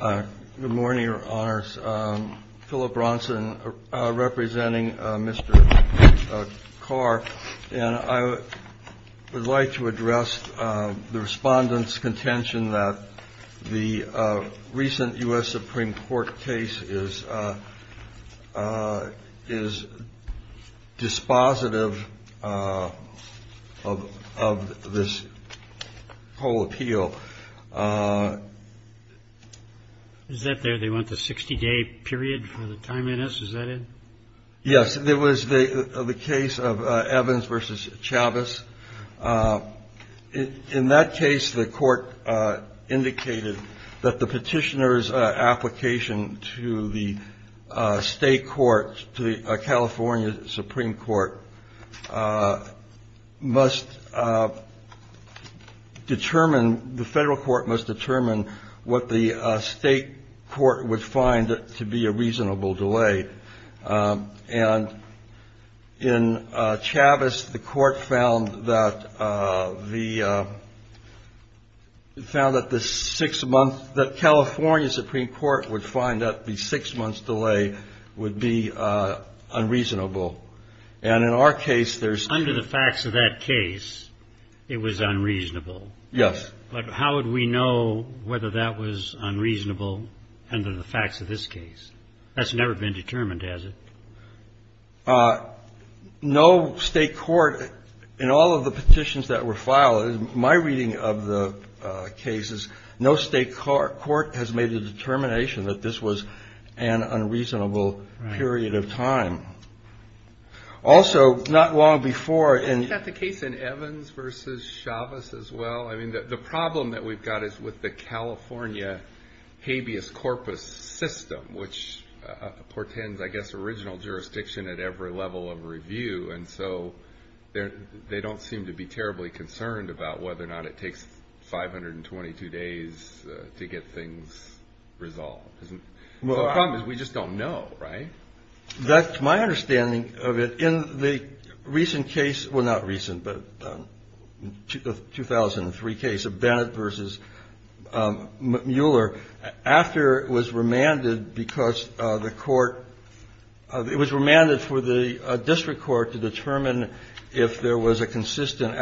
Good morning, Your Honors. Philip Bronson representing Mr. CARR. And I would like to address the Respondent's contention that the recent U.S. Supreme Court case is dispositive of this whole appeal. Is that there, they want the 60-day period for the time in it? Is that it? Yes, it was the case of Evans v. Chavez. In that case, the Court indicated that the petitioner's State Court to the California Supreme Court must determine, the Federal Court must determine, what the State Court would find to be a reasonable delay. And in Chavez, the Court found that the six-month, the California Supreme Court would find that the six-month delay would be unreasonable. And in our case, there's – Under the facts of that case, it was unreasonable. Yes. But how would we know whether that was unreasonable under the facts of this case? That's never been determined, has it? No State Court in all of the petitions that were filed, in my reading of the cases, no State Court has made a determination that this was an unreasonable period of time. Also, not long before in – We've got the case in Evans v. Chavez as well. I mean, the problem that we've got is with the California habeas corpus system, which portends, I guess, original jurisdiction at every level of review. And so they don't seem to be terribly concerned about whether or not it takes 522 days to get things resolved. The problem is we just don't know, right? That's my understanding of it. In the recent case – well, not recent, but 2003 case of Bennett v. Mueller, after it was remanded because the court – it was remanded for the district court to determine if there was a consistent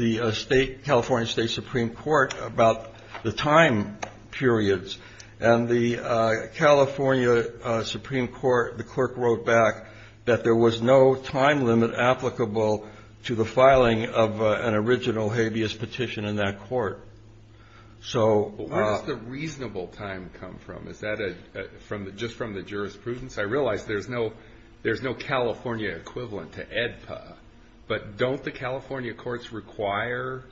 the California State Supreme Court about the time periods. And the California Supreme Court, the clerk wrote back that there was no time limit applicable to the filing of an original habeas petition in that court. So – Where does the reasonable time come from? Is that just from the jurisprudence? I realize there's no California equivalent to AEDPA, but don't the California courts require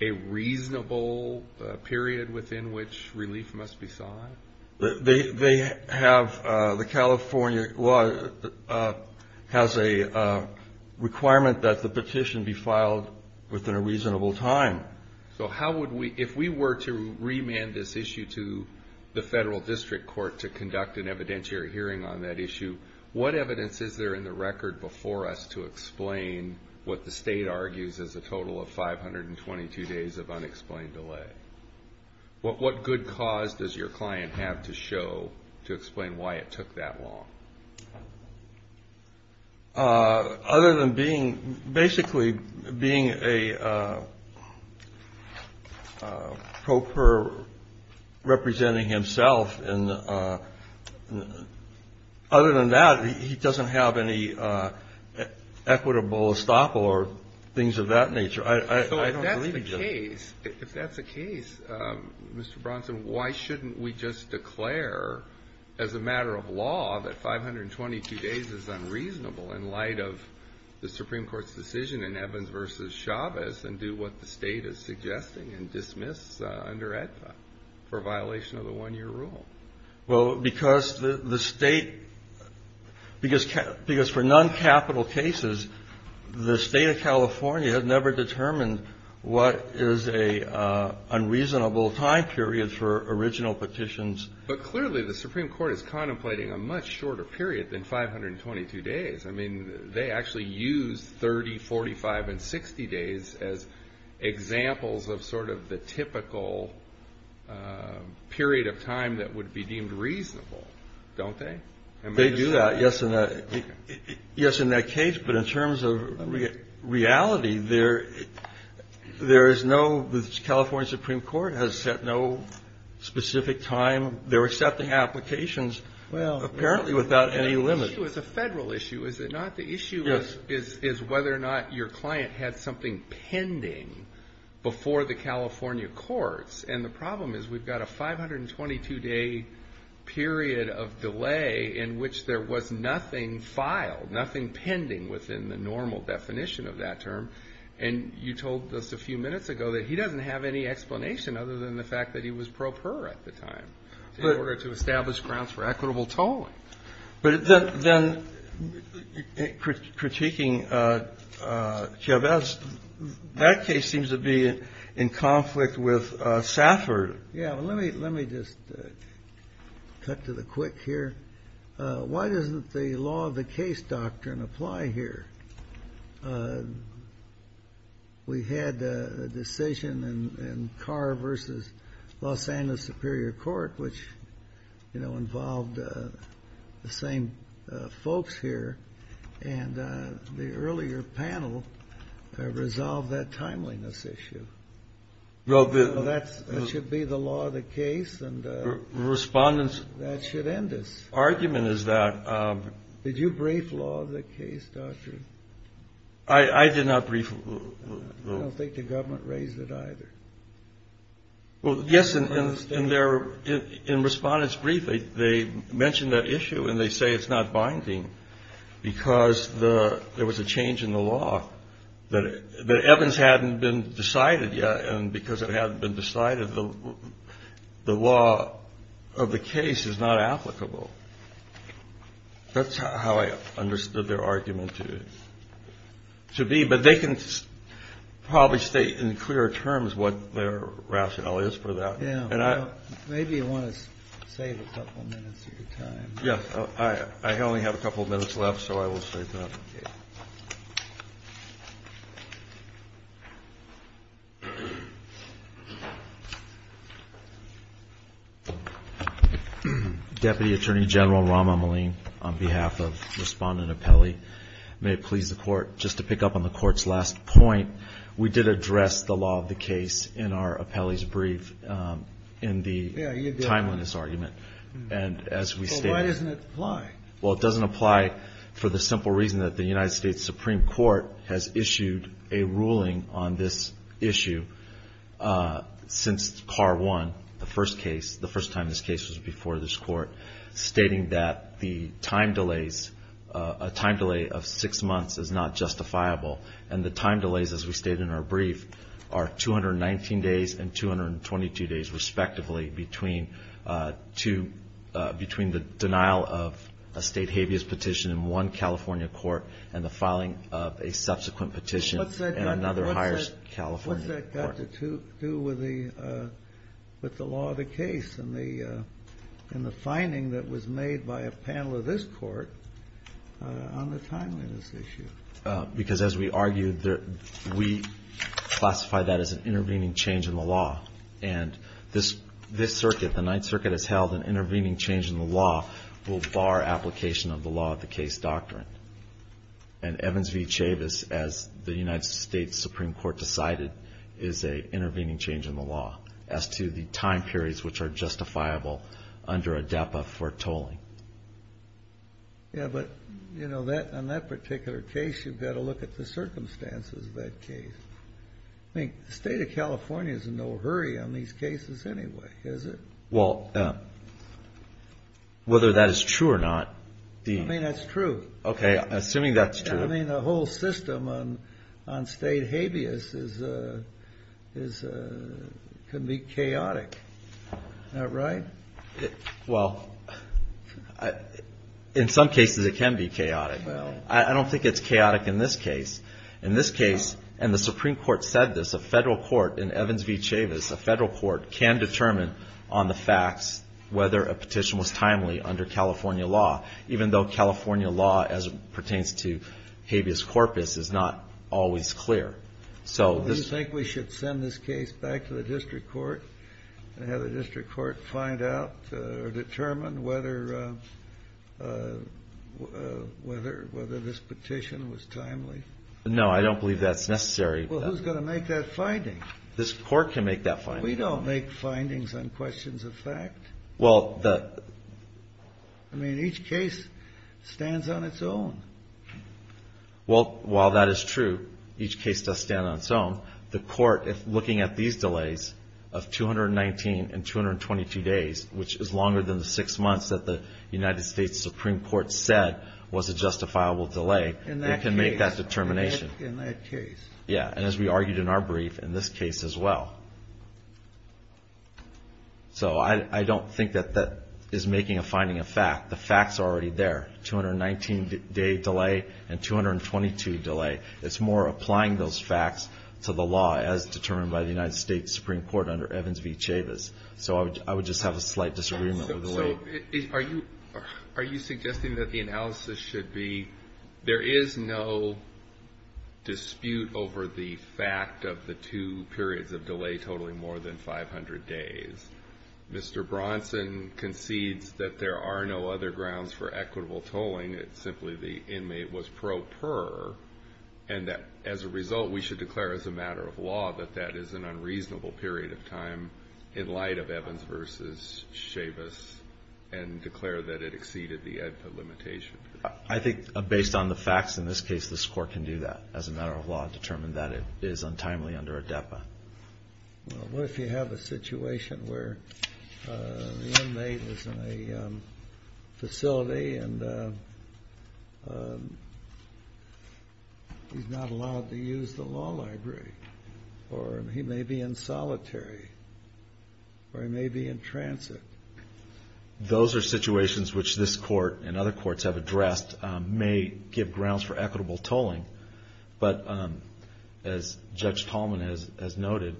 a reasonable period within which relief must be sought? They have – the California law has a requirement that the petition be filed within a reasonable time. So how would we – if we were to remand this issue to the federal district court to conduct an evidentiary hearing on that issue, what evidence is there in the record before us to explain what the state argues is a total of 522 days of unexplained delay? What good cause does your client have to show to explain why it took that long? Other than being – basically being a pro per representing himself, and other than that, he doesn't have any equitable estoppel or things of that nature. I don't believe that. If that's the case, if that's the case, Mr. Bronson, why shouldn't we just declare as a matter of law that 522 days is unreasonable in light of the Supreme Court's decision in Evans v. Chavez and do what the State is suggesting and dismiss under AEDPA for violation of the one-year rule? Well, because the State – because for non-capital cases, the State of California has never determined what is an unreasonable time period for original petitions. But clearly the Supreme Court is contemplating a much shorter period than 522 days. I mean, they actually use 30, 45, and 60 days as examples of sort of the typical period of time that would be deemed reasonable, don't they? They do that, yes, in that case. But in terms of reality, there is no – the California Supreme Court has set no specific time. They're accepting applications apparently without any limit. Well, the issue is a federal issue, is it not? The issue is whether or not your client had something pending before the California courts. And the problem is we've got a 522-day period of delay in which there was nothing filed, nothing pending within the normal definition of that term. And you told us a few minutes ago that he doesn't have any explanation other than the fact that he was pro per at the time, in order to establish grounds for equitable tolling. But then critiquing Chavez, that case seems to be in conflict with Safford. Yeah. Let me just cut to the quick here. Why doesn't the law of the case doctrine apply here? We had a decision in Carr v. Los Angeles Superior Court, which, you know, involved the same folks here, and the earlier panel resolved that timeliness issue. Well, the – That should be the law of the case, and that should end us. The argument is that – Did you brief law of the case doctrine? I did not brief – I don't think the government raised it either. Well, yes, and they're – in Respondent's brief, they mentioned that issue, and they say it's not binding because there was a change in the law that Evans hadn't been decided yet, and because it hadn't been decided, the law of the case is not applicable. That's how I understood their argument to be. But they can probably state in clearer terms what their rationale is for that. Yeah. And I – Maybe you want to save a couple minutes of your time. Yeah. I only have a couple minutes left, so I will save that. Okay. Deputy Attorney General Rahm Emanuel, on behalf of Respondent Apelli, may it please the Court, just to pick up on the Court's last point, we did address the law of the case in our Apelli's brief, in the timeliness argument, and as we stated – Well, why doesn't it apply? Well, it doesn't apply for the simple reason that the United States Supreme Court has issued a ruling on this issue since CAR 1, the first case, the first time this case was before this Court, stating that the time delays – a time delay of six months is not justifiable, and the time delays, as we stated in our brief, are 219 days and 222 days, respectively, between the denial of a state habeas petition in one California court and the filing of a subsequent petition in another higher California court. What's that got to do with the law of the case and the finding that was made by a panel of this Court on the timeliness issue? Because, as we argued, we classify that as an intervening change in the law, and this circuit, the Ninth Circuit, has held an intervening change in the law will bar application of the law of the case doctrine. And Evans v. Chavis, as the United States Supreme Court decided, is an intervening change in the law as to the time periods which are justifiable under ADEPA for tolling. Yeah, but, you know, on that particular case, you've got to look at the circumstances of that case. I mean, the state of California is in no hurry on these cases anyway, is it? Well, whether that is true or not, Dean. I mean, that's true. Okay, assuming that's true. I mean, the whole system on state habeas can be chaotic. Isn't that right? Well, in some cases it can be chaotic. I don't think it's chaotic in this case. In this case, and the Supreme Court said this, a federal court, in Evans v. Chavis, a federal court can determine on the facts whether a petition was timely under California law, even though California law, as it pertains to habeas corpus, is not always clear. Do you think we should send this case back to the district court and have the district court find out or determine whether this petition was timely? No, I don't believe that's necessary. Well, who's going to make that finding? This court can make that finding. We don't make findings on questions of fact. Well, the ---- I mean, each case stands on its own. Well, while that is true, each case does stand on its own, the court, looking at these delays of 219 and 222 days, which is longer than the six months that the United States Supreme Court said was a justifiable delay, it can make that determination. In that case. Yeah, and as we argued in our brief, in this case as well. So I don't think that that is making a finding of fact. The facts are already there, 219-day delay and 222 delay. It's more applying those facts to the law as determined by the United States Supreme Court under Evans v. Chavis. So I would just have a slight disagreement with the way. So are you suggesting that the analysis should be, there is no dispute over the fact of the two periods of delay totaling more than 500 days. Mr. Bronson concedes that there are no other grounds for equitable tolling. It's simply the inmate was pro per and that as a result, we should declare as a matter of law that that is an unreasonable period of time in light of Evans v. Chavis and declare that it exceeded the limitation. I think based on the facts in this case, this court can do that as a matter of law determined that it is untimely under a DEPA. Well, what if you have a situation where the inmate is in a facility and he's not allowed to use the law library or he may be in solitary or he may be in transit. Those are situations which this court and other courts have addressed may give grounds for equitable tolling. But as Judge Tallman has noted,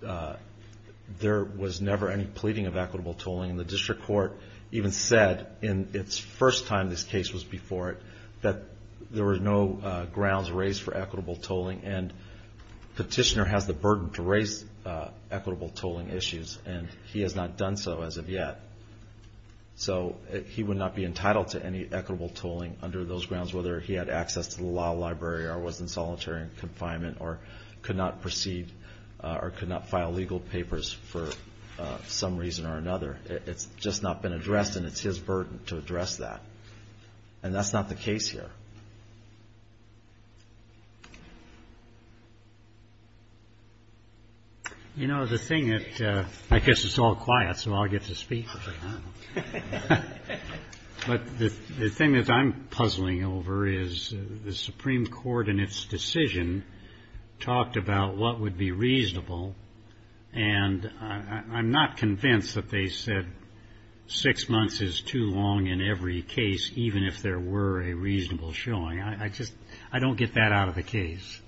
there was never any pleading of equitable tolling. And the district court even said in its first time this case was before it, that there were no grounds raised for equitable tolling. And the petitioner has the burden to raise equitable tolling issues, and he has not done so as of yet. So he would not be entitled to any equitable tolling under those grounds, whether he had access to the law library or was in solitary confinement or could not proceed or could not file legal papers for some reason or another. It's just not been addressed, and it's his burden to address that. And that's not the case here. You know, the thing that – I guess it's all quiet so I'll get to speak. But the thing that I'm puzzling over is the Supreme Court in its decision talked about what would be reasonable, and I'm not convinced that they said six months is too long in every case, even if there were a reasonable showing. I just – I don't get that out of the case.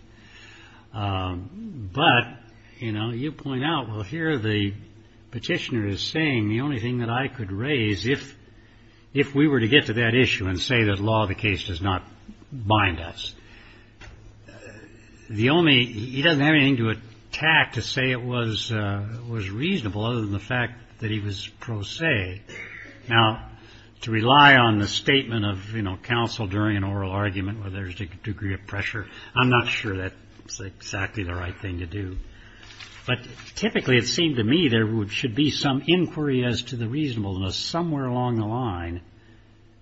But, you know, you point out, well, here the petitioner is saying the only thing that I could raise, if we were to get to that issue and say that law of the case does not bind us, the only – he doesn't have anything to attack to say it was reasonable other than the fact that he was pro se. Now, to rely on the statement of, you know, counsel during an oral argument where there's a degree of pressure, I'm not sure that's exactly the right thing to do. But typically it seemed to me there should be some inquiry as to the reasonableness somewhere along the line.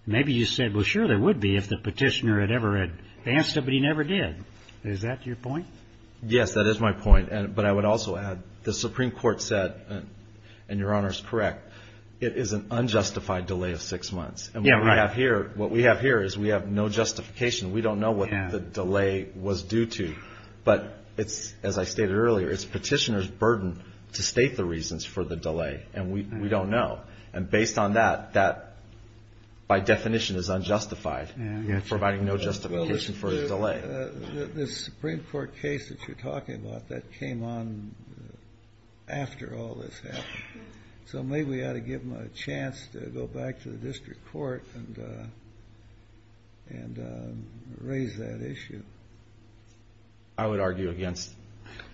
Maybe you said, well, sure, there would be if the petitioner had ever asked it, but he never did. Is that your point? Yes, that is my point. But I would also add the Supreme Court said, and Your Honor is correct, it is an unjustified delay of six months. And what we have here is we have no justification. We don't know what the delay was due to. But it's, as I stated earlier, it's petitioner's burden to state the reasons for the delay. And we don't know. And based on that, that by definition is unjustified, providing no justification for a delay. The Supreme Court case that you're talking about, that came on after all this happened. So maybe we ought to give them a chance to go back to the district court and raise that issue. I would argue against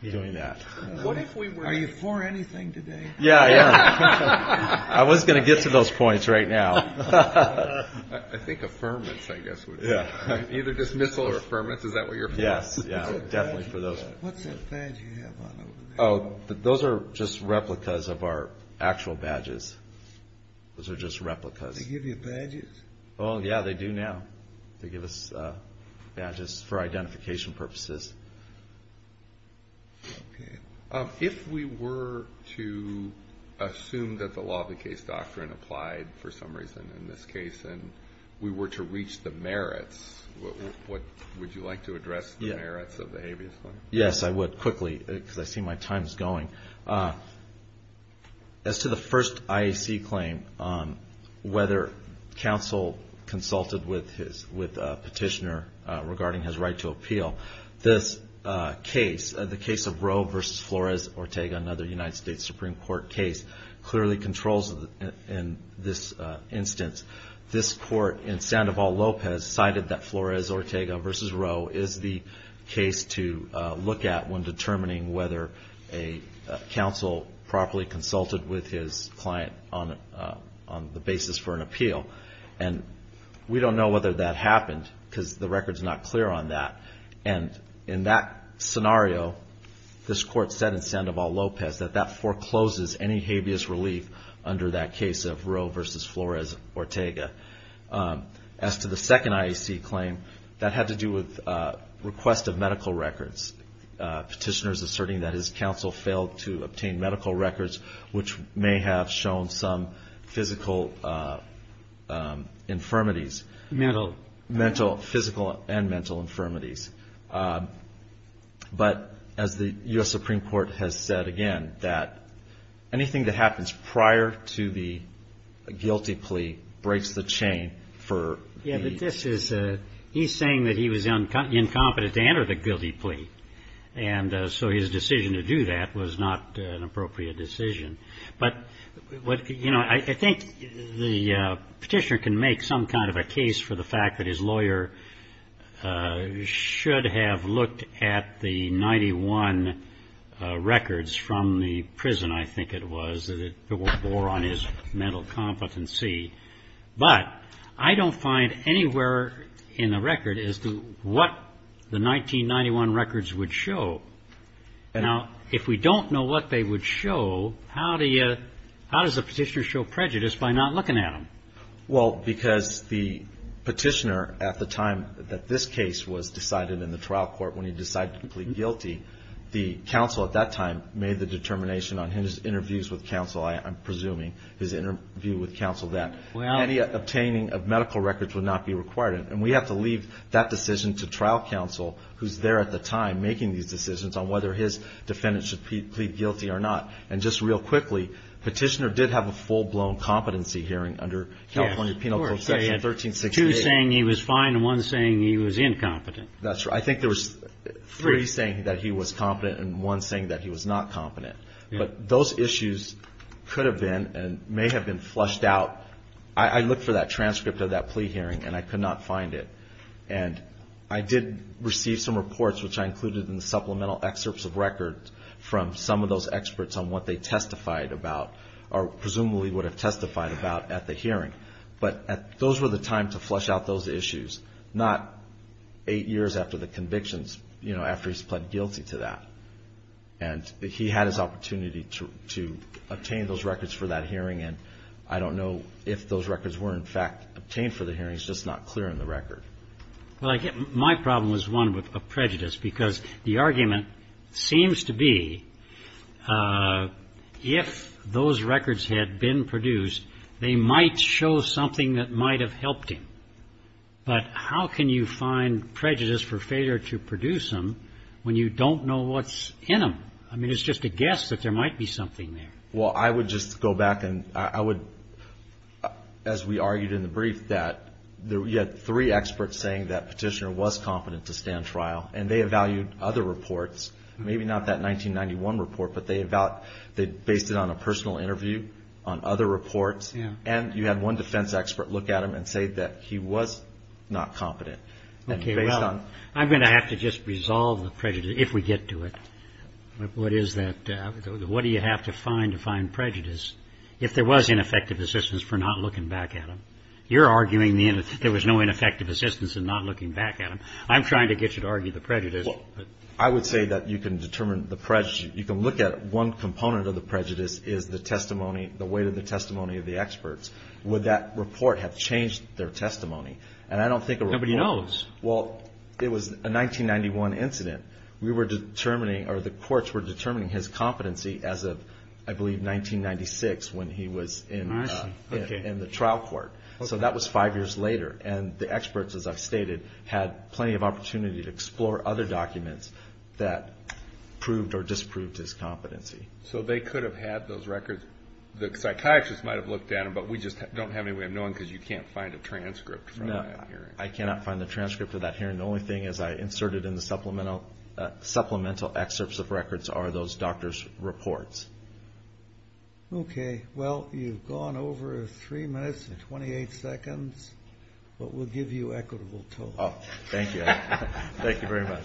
doing that. Are you for anything today? Yeah, yeah. I was going to get to those points right now. I think affirmance, I guess, would be either dismissal or affirmance. Is that what you're for? Yes, yeah, definitely for those. What's that badge you have on over there? Oh, those are just replicas of our actual badges. Those are just replicas. They give you badges? Oh, yeah, they do now. They give us badges for identification purposes. If we were to assume that the law of the case doctrine applied for some reason in this case, and we were to reach the merits, would you like to address the merits of the habeas claim? Yes, I would, quickly, because I see my time is going. As to the first IAC claim, whether counsel consulted with a petitioner regarding his right to appeal, this case, the case of Roe v. Flores-Ortega, another United States Supreme Court case, clearly controls in this instance. This court in Sandoval-Lopez cited that Flores-Ortega v. Roe is the case to look at when determining whether a counsel properly consulted with his client on the basis for an appeal. And we don't know whether that happened because the record is not clear on that. And in that scenario, this court said in Sandoval-Lopez that that forecloses any habeas relief under that case of Roe v. Flores-Ortega. As to the second IAC claim, that had to do with request of medical records. Petitioners asserting that his counsel failed to obtain medical records, which may have shown some physical infirmities. Mental. Mental, physical, and mental infirmities. But as the U.S. Supreme Court has said again, that anything that happens prior to the guilty plea breaks the chain for. Yeah, but this is, he's saying that he was incompetent to enter the guilty plea. And so his decision to do that was not an appropriate decision. But, you know, I think the petitioner can make some kind of a case for the fact that his lawyer should have looked at the 91 records from the prison, I think it was, that bore on his mental competency. But I don't find anywhere in the record as to what the 1991 records would show. Now, if we don't know what they would show, how do you, how does a petitioner show prejudice by not looking at them? Well, because the petitioner at the time that this case was decided in the trial court, when he decided to plead guilty, the counsel at that time made the determination on his interviews with counsel, I'm presuming, his interview with counsel, that any obtaining of medical records would not be required. And we have to leave that decision to trial counsel, who's there at the time making these decisions on whether his defendant should plead guilty or not. And just real quickly, petitioner did have a full-blown competency hearing under California Penal Code Section 1368. Yes, of course. They had two saying he was fine and one saying he was incompetent. That's right. I think there was three saying that he was competent and one saying that he was not competent. But those issues could have been and may have been flushed out. I looked for that transcript of that plea hearing and I could not find it. And I did receive some reports, which I included in the supplemental excerpts of records from some of those experts on what they testified about or presumably would have testified about at the hearing. But those were the time to flush out those issues, not eight years after the convictions, you know, after he's pled guilty to that. And he had his opportunity to obtain those records for that hearing, and I don't know if those records were in fact obtained for the hearings, just not clear in the record. Well, I guess my problem was one with a prejudice, because the argument seems to be if those records had been produced, they might show something that might have helped him. But how can you find prejudice for failure to produce them when you don't know what's in them? I mean, it's just a guess that there might be something there. Well, I would just go back and I would, as we argued in the brief, that you had three experts saying that Petitioner was competent to stand trial, and they evaluated other reports, maybe not that 1991 report, but they based it on a personal interview, on other reports, and you had one defense expert look at him and say that he was not competent. Okay, well, I'm going to have to just resolve the prejudice, if we get to it, what is that, what do you have to find to find prejudice if there was ineffective assistance for not looking back at him? You're arguing there was no ineffective assistance in not looking back at him. I'm trying to get you to argue the prejudice. Well, I would say that you can determine the prejudice. You can look at one component of the prejudice is the testimony, the weight of the testimony of the experts. Would that report have changed their testimony? And I don't think a report would. Nobody knows. Well, it was a 1991 incident. We were determining, or the courts were determining, his competency as of, I believe, 1996 when he was in the trial court. So that was five years later, and the experts, as I've stated, had plenty of opportunity to explore other documents that proved or disproved his competency. So they could have had those records. The psychiatrist might have looked at them, but we just don't have any way of knowing because you can't find a transcript. No, I cannot find the transcript of that hearing. The only thing is I inserted in the supplemental excerpts of records are those doctors' reports. Okay. Well, you've gone over three minutes and 28 seconds, but we'll give you equitable total. Thank you. Thank you very much.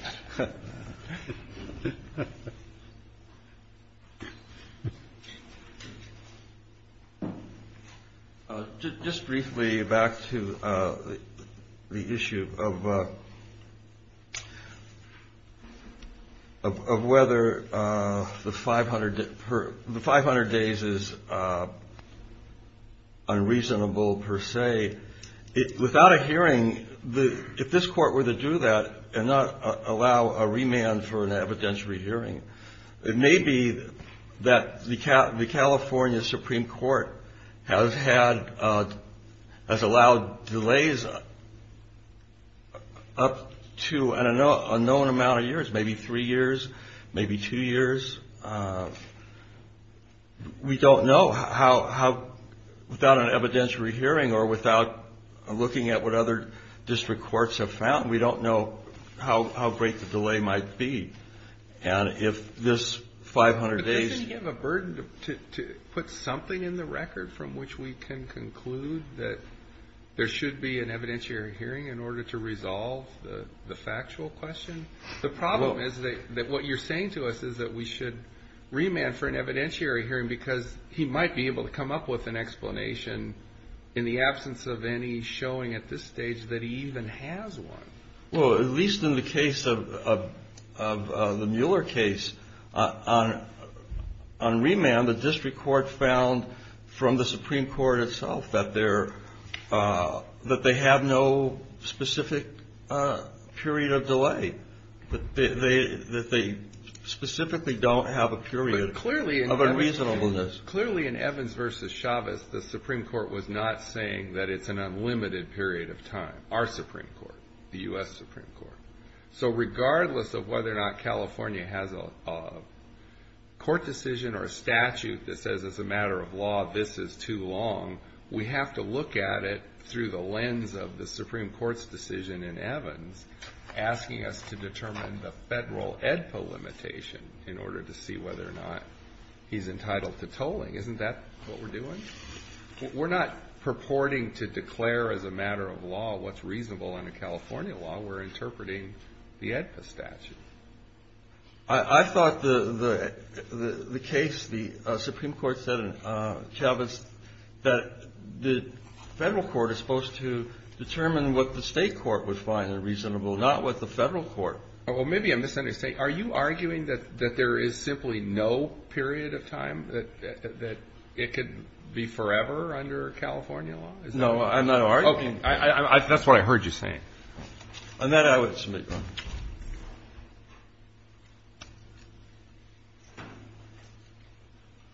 Just briefly back to the issue of whether the 500 days is unreasonable per se. Without a hearing, if this court were to do that and not allow a remand for an evidentiary hearing, it may be that the California Supreme Court has allowed delays up to an unknown amount of years, maybe three years, maybe two years. We don't know without an evidentiary hearing or without looking at what other district courts have found. We don't know how great the delay might be. And if this 500 days... But doesn't he have a burden to put something in the record from which we can conclude that there should be an evidentiary hearing in order to resolve the factual question? The problem is that what you're saying to us is that we should remand for an evidentiary hearing because he might be able to come up with an explanation in the absence of any showing at this stage that he even has one. Well, at least in the case of the Mueller case, on remand the district court found from the Supreme Court itself that they have no specific period of delay, that they specifically don't have a period of unreasonableness. Clearly in Evans v. Chavez, the Supreme Court was not saying that it's an unlimited period of time, our Supreme Court, the U.S. Supreme Court. So regardless of whether or not California has a court decision or a statute that says as a matter of law this is too long, we have to look at it through the lens of the Supreme Court's decision in Evans asking us to determine the federal EDPA limitation in order to see whether or not he's entitled to tolling. Isn't that what we're doing? We're not purporting to declare as a matter of law what's reasonable under California law. We're interpreting the EDPA statute. I thought the case, the Supreme Court said in Chavez, that the federal court is supposed to determine what the state court would find unreasonable, not what the federal court. Well, maybe I'm misunderstanding. Are you arguing that there is simply no period of time, that it could be forever under California law? No, I'm not arguing. Okay. That's what I heard you saying. On that, I would submit, Your Honor.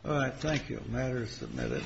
All right. Thank you. The matter is submitted.